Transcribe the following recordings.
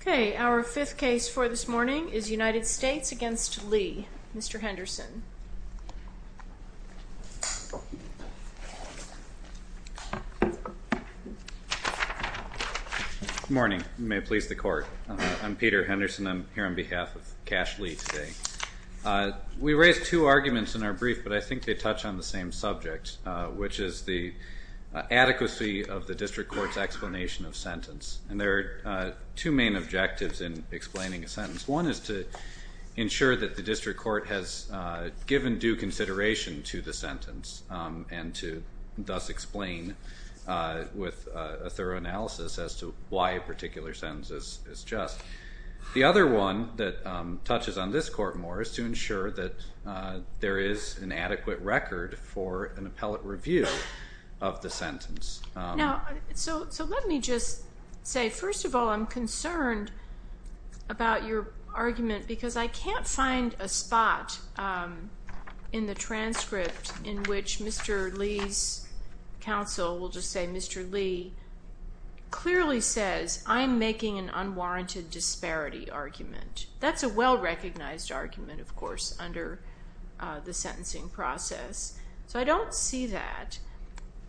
Okay, our fifth case for this morning is United States v. Lee. Mr. Henderson. Good morning. May it please the court. I'm Peter Henderson. I'm here on behalf of Kash We raised two arguments in our brief, but I think they touch on the same subject, which is the adequacy of the district court's explanation of sentence. And there are two main objectives in explaining a sentence. One is to ensure that the district court has given due consideration to the sentence and to thus explain with a thorough analysis as to why a particular sentence is just. The other one that touches on this court more is to ensure that there is an adequate record for an appellate review of the sentence. Now, so let me just say, first of all, I'm concerned about your argument because I can't find a spot in the transcript in which Mr. Lee's counsel, we'll just say Mr. Lee, clearly says, I'm making an unwarranted disparity argument. That's a well-recognized argument, of course, under the sentencing process. So I don't see that.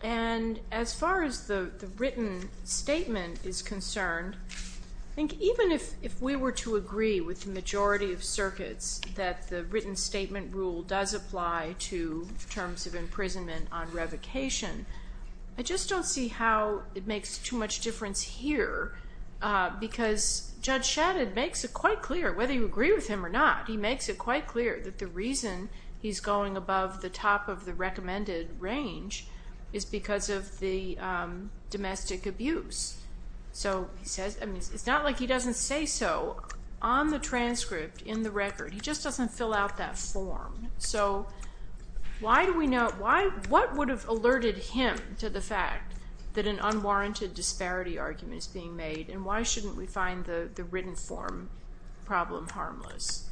And as far as the written statement is concerned, I think even if we were to agree with the majority of circuits that the written statement rule does apply to terms of imprisonment on revocation, I just don't see how it makes too much difference here because Judge Shadid makes it quite clear, whether you agree with him or not, he makes it quite clear that the reason he's going above the top of the recommended range is because of the domestic abuse. So he says, I mean, it's not like he doesn't say so on the transcript in the record. He just doesn't fill out that form. So why do we know, what would have alerted him to the fact that an unwarranted disparity argument is being made and why shouldn't we find the written form problem harmless?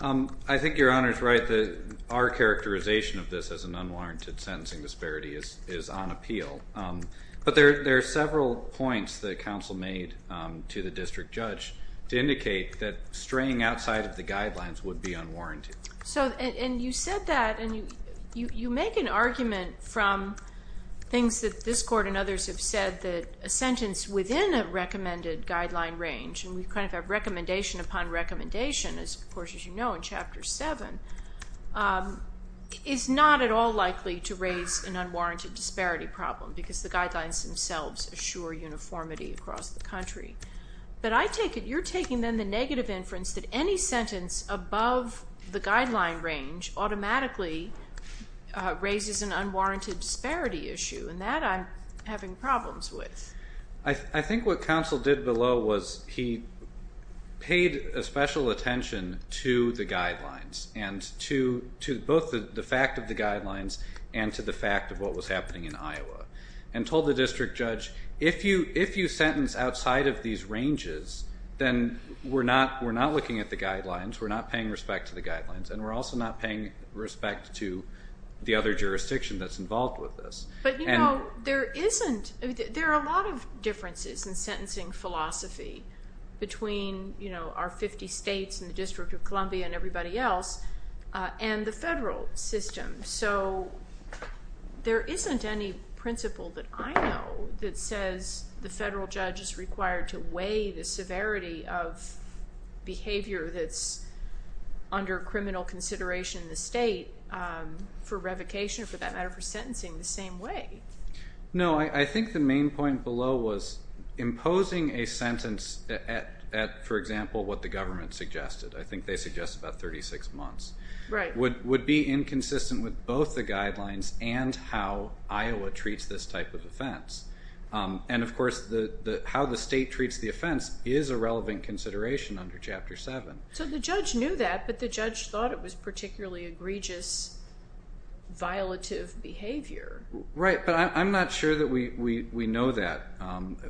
I think Your Honor's right that our characterization of this as an unwarranted sentencing disparity is on appeal. But there are several points that counsel made to the district judge to indicate that straying outside of the guidelines would be unwarranted. And you said that, and you make an argument from things that this court and others have said, that a sentence within a recommended guideline range, and we kind of have recommendation upon recommendation, of course, as you know in Chapter 7, is not at all likely to raise an unwarranted disparity problem. Because the guidelines themselves assure uniformity across the country. But I take it you're taking, then, the negative inference that any sentence above the guideline range automatically raises an unwarranted disparity issue. And that I'm having problems with. I think what counsel did below was he paid a special attention to the guidelines, and to both the fact of the guidelines and to the fact of what was happening in Iowa, and told the district judge, if you sentence outside of these ranges, then we're not looking at the guidelines, we're not paying respect to the guidelines, and we're also not paying respect to the other jurisdiction that's involved with this. But, you know, there are a lot of differences in sentencing philosophy between, you know, our 50 states and the District of Columbia and everybody else, and the federal system. So there isn't any principle that I know that says the federal judge is required to weigh the severity of behavior that's under criminal consideration in the state for revocation, for that matter, for sentencing the same way. No, I think the main point below was imposing a sentence at, for example, what the government suggested. I think they suggest about 36 months. Right. Would be inconsistent with both the guidelines and how Iowa treats this type of offense. And, of course, how the state treats the offense is a relevant consideration under Chapter 7. So the judge knew that, but the judge thought it was particularly egregious, violative behavior. Right, but I'm not sure that we know that.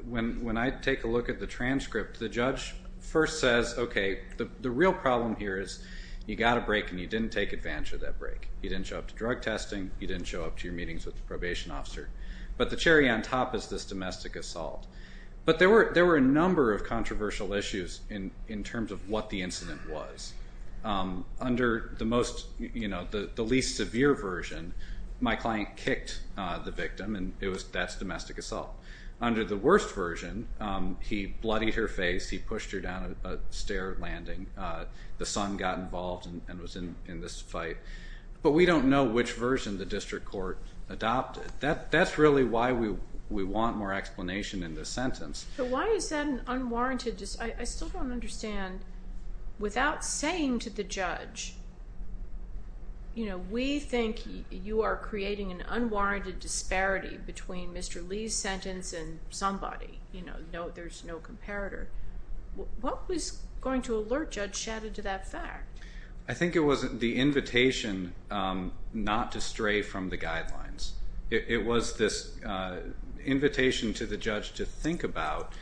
When I take a look at the transcript, the judge first says, okay, the real problem here is you got a break, and you didn't take advantage of that break. You didn't show up to drug testing. You didn't show up to your meetings with the probation officer. But the cherry on top is this domestic assault. But there were a number of controversial issues in terms of what the incident was. Under the most, you know, the least severe version, my client kicked the victim, and that's domestic assault. Under the worst version, he bloodied her face. He pushed her down a stair landing. The son got involved and was in this fight. But we don't know which version the district court adopted. That's really why we want more explanation in this sentence. But why is that an unwarranted? I still don't understand. Without saying to the judge, you know, we think you are creating an unwarranted disparity between Mr. Lee's sentence and somebody. You know, there's no comparator. What was going to alert Judge Shadda to that fact? I think it was the invitation not to stray from the guidelines. It was this invitation to the judge to think about,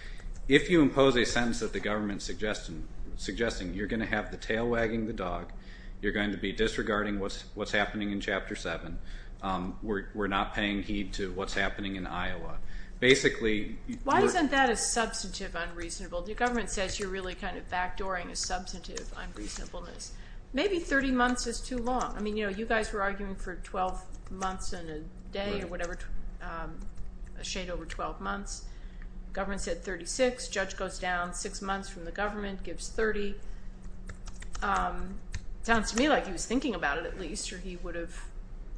if you impose a sentence that the government is suggesting, you're going to have the tail wagging the dog. You're going to be disregarding what's happening in Chapter 7. We're not paying heed to what's happening in Iowa. Why isn't that a substantive unreasonable? The government says you're really kind of backdooring a substantive unreasonableness. Maybe 30 months is too long. I mean, you know, you guys were arguing for 12 months and a day or whatever, a shade over 12 months. Government said 36. Judge goes down six months from the government, gives 30. Sounds to me like he was thinking about it at least or he would have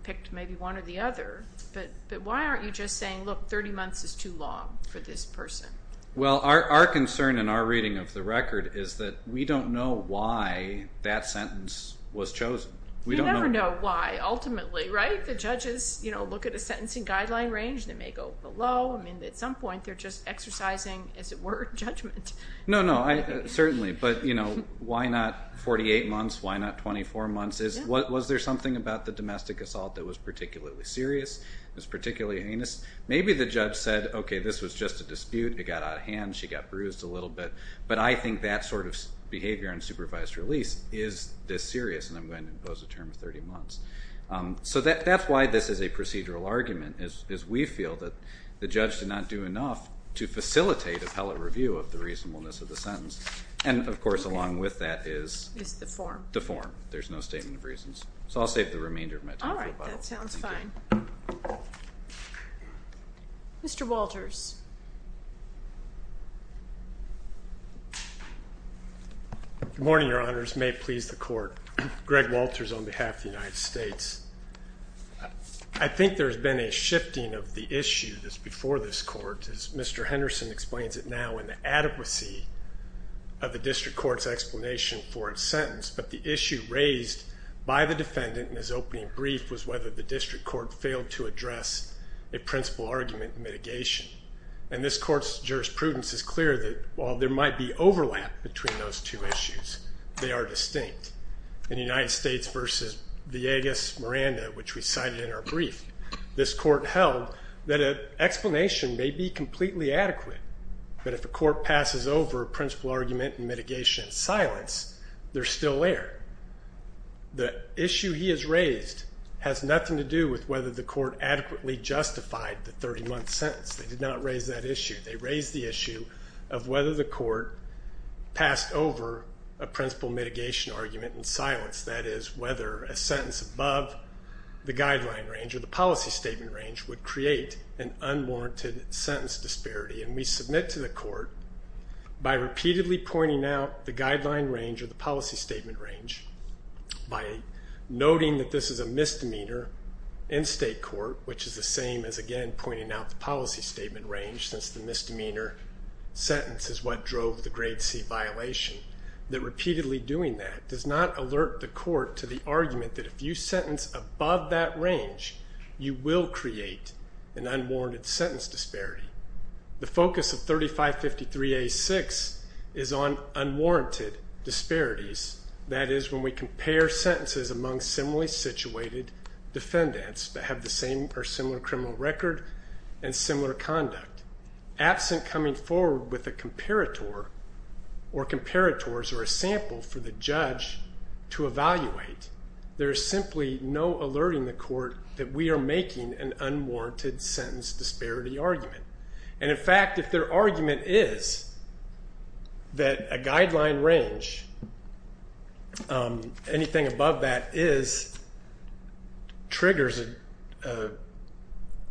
picked maybe one or the other. But why aren't you just saying, look, 30 months is too long for this person? Well, our concern in our reading of the record is that we don't know why that sentence was chosen. You never know why, ultimately, right? The judges, you know, look at a sentencing guideline range. They may go below. I mean, at some point, they're just exercising, as it were, judgment. No, no, certainly. But, you know, why not 48 months? Why not 24 months? Was there something about the domestic assault that was particularly serious, was particularly heinous? Maybe the judge said, okay, this was just a dispute. It got out of hand. She got bruised a little bit. But I think that sort of behavior on supervised release is this serious, and I'm going to impose a term of 30 months. So that's why this is a procedural argument, is we feel that the judge did not do enough to facilitate appellate review of the reasonableness of the sentence. And, of course, along with that is the form. There's no statement of reasons. So I'll save the remainder of my time. All right. That sounds fine. Mr. Walters. Good morning, Your Honors. May it please the Court. Greg Walters on behalf of the United States. I think there has been a shifting of the issue before this Court, as Mr. Henderson explains it now, in the adequacy of the district court's explanation for its sentence. But the issue raised by the defendant in his opening brief was whether the district court failed to address a principal argument in mitigation. And this Court's jurisprudence is clear that while there might be overlap between those two issues, they are distinct. In United States v. Villegas-Miranda, which we cited in our brief, this Court held that an explanation may be completely adequate. But if a court passes over a principal argument in mitigation in silence, they're still there. The issue he has raised has nothing to do with whether the court adequately justified the 30-month sentence. They did not raise that issue. They raised the issue of whether the court passed over a principal mitigation argument in silence, that is, whether a sentence above the guideline range or the policy statement range would create an unwarranted sentence disparity. And we submit to the court by repeatedly pointing out the guideline range or the policy statement range, by noting that this is a misdemeanor in state court, which is the same as, again, pointing out the policy statement range since the misdemeanor sentence is what drove the grade C violation, that repeatedly doing that does not alert the court to the argument that if you sentence above that range, you will create an unwarranted sentence disparity. The focus of 3553A6 is on unwarranted disparities, that is when we compare sentences among similarly situated defendants that have the same or similar criminal record and similar conduct. Absent coming forward with a comparator or comparators or a sample for the judge to evaluate, there is simply no alerting the court that we are making an unwarranted sentence disparity argument. And, in fact, if their argument is that a guideline range, anything above that is, triggers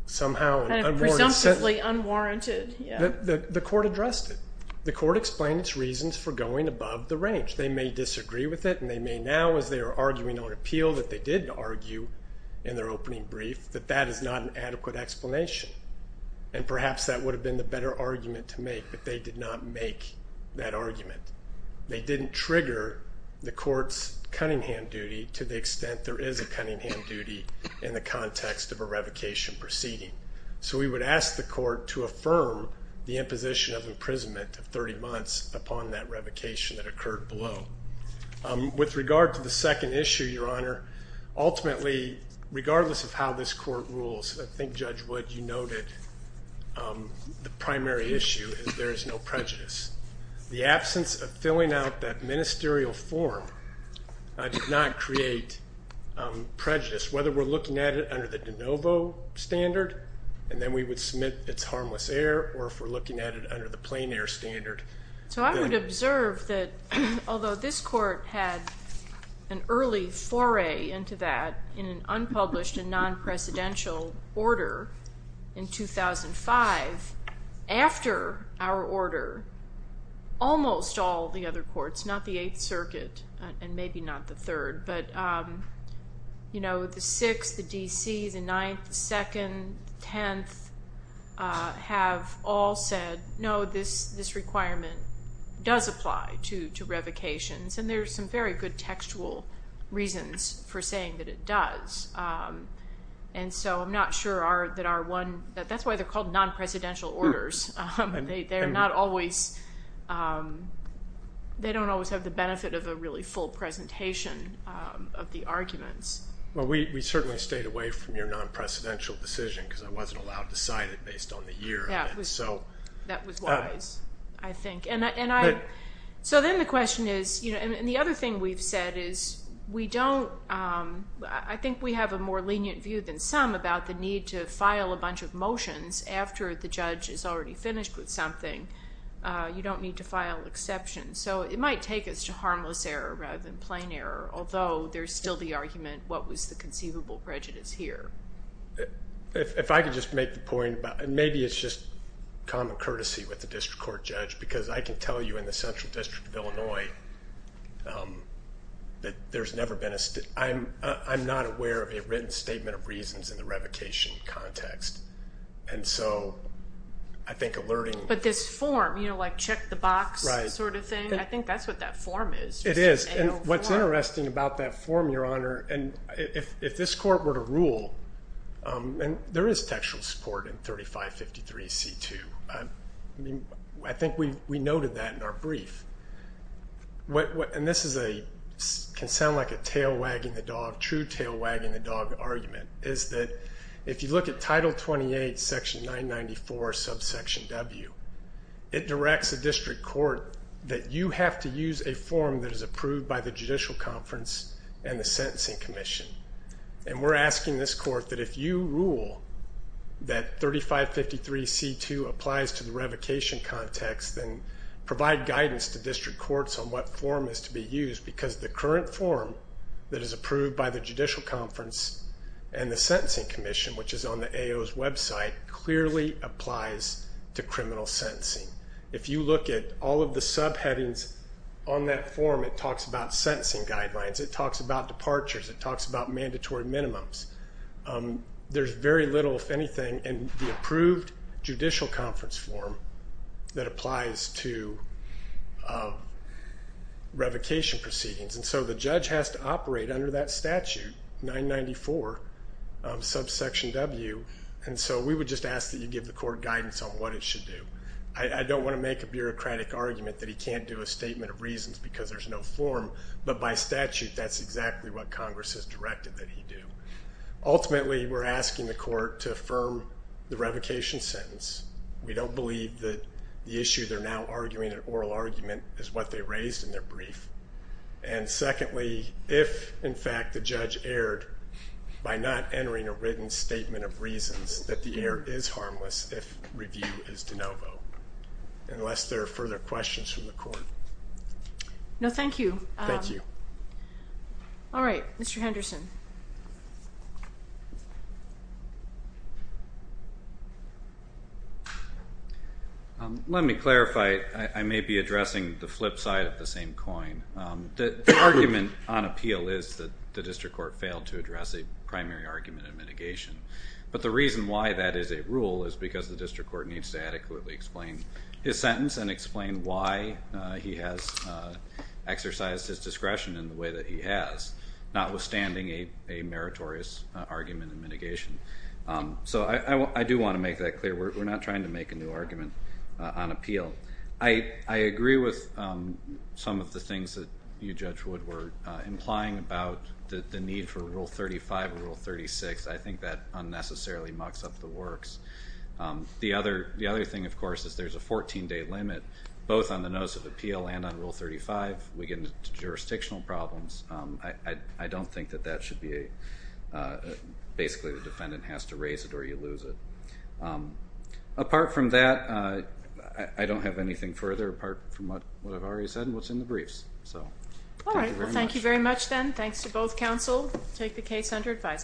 somehow an unwarranted sentence. Presumptively unwarranted. The court addressed it. The court explained its reasons for going above the range. They may disagree with it, and they may now, as they are arguing on appeal that they did argue in their opening brief, that that is not an adequate explanation. And perhaps that would have been the better argument to make, but they did not make that argument. They didn't trigger the court's Cunningham duty to the extent there is a Cunningham duty in the context of a revocation proceeding. So we would ask the court to affirm the imposition of imprisonment of 30 months upon that revocation that occurred below. With regard to the second issue, Your Honor, ultimately, regardless of how this court rules, I think, Judge Wood, you noted the primary issue is there is no prejudice. The absence of filling out that ministerial form did not create prejudice, whether we're looking at it under the de novo standard, and then we would submit it's harmless error, or if we're looking at it under the plain error standard. So I would observe that although this court had an early foray into that in an unpublished and non-precedential order in 2005, after our order, almost all the other courts, not the Eighth Circuit and maybe not the Third, but, you know, the Sixth, the D.C., the Ninth, the Second, the Tenth, have all said, no, this requirement does apply to revocations, and there's some very good textual reasons for saying that it does. And so I'm not sure that our one, that's why they're called non-precedential orders. They're not always, they don't always have the benefit of a really full presentation of the arguments. Well, we certainly stayed away from your non-precedential decision because I wasn't allowed to cite it based on the year. That was wise, I think. And I, so then the question is, you know, and the other thing we've said is we don't, I think we have a more lenient view than some about the need to file a bunch of motions after the judge is already finished with something. You don't need to file exceptions. So it might take us to harmless error rather than plain error, although there's still the argument, what was the conceivable prejudice here? If I could just make the point about, and maybe it's just common courtesy with the district court judge, because I can tell you in the Central District of Illinois that there's never been a, I'm not aware of a written statement of reasons in the revocation context. And so I think alerting. But this form, you know, like check the box sort of thing, I think that's what that form is. It is, and what's interesting about that form, Your Honor, and if this court were to rule, and there is textual support in 3553C2. I think we noted that in our brief. And this is a, can sound like a tail wagging the dog, true tail wagging the dog argument, is that if you look at Title 28, Section 994, subsection W, it directs the district court that you have to use a form that is approved by the judicial conference and the sentencing commission. And we're asking this court that if you rule that 3553C2 applies to the revocation context, then provide guidance to district courts on what form is to be used, because the current form that is approved by the judicial conference and the sentencing commission, which is on the AO's website, clearly applies to criminal sentencing. If you look at all of the subheadings on that form, it talks about sentencing guidelines, it talks about departures, it talks about mandatory minimums. There's very little, if anything, in the approved judicial conference form that applies to revocation proceedings. And so the judge has to operate under that statute, 994, subsection W, and so we would just ask that you give the court guidance on what it should do. I don't want to make a bureaucratic argument that he can't do a statement of reasons because there's no form, but by statute that's exactly what Congress has directed that he do. Ultimately, we're asking the court to affirm the revocation sentence. We don't believe that the issue they're now arguing, an oral argument, is what they raised in their brief. And secondly, if, in fact, the judge erred by not entering a written statement of reasons, that the error is harmless if review is de novo, unless there are further questions from the court. No, thank you. Thank you. All right, Mr. Henderson. Let me clarify. I may be addressing the flip side of the same coin. The argument on appeal is that the district court failed to address a primary argument in mitigation, but the reason why that is a rule is because the district court needs to adequately explain his sentence and explain why he has exercised his discretion in the way that he has, notwithstanding a meritorious argument in mitigation. So I do want to make that clear. We're not trying to make a new argument on appeal. I agree with some of the things that you, Judge Wood, were implying about the need for Rule 35 or Rule 36. I think that unnecessarily mucks up the works. The other thing, of course, is there's a 14-day limit, both on the notice of appeal and on Rule 35. We get into jurisdictional problems. I don't think that that should be a, basically the defendant has to raise it or you lose it. Apart from that, I don't have anything further apart from what I've already said and what's in the briefs. All right, well, thank you very much then. Thanks to both counsel. Take the case under advisement.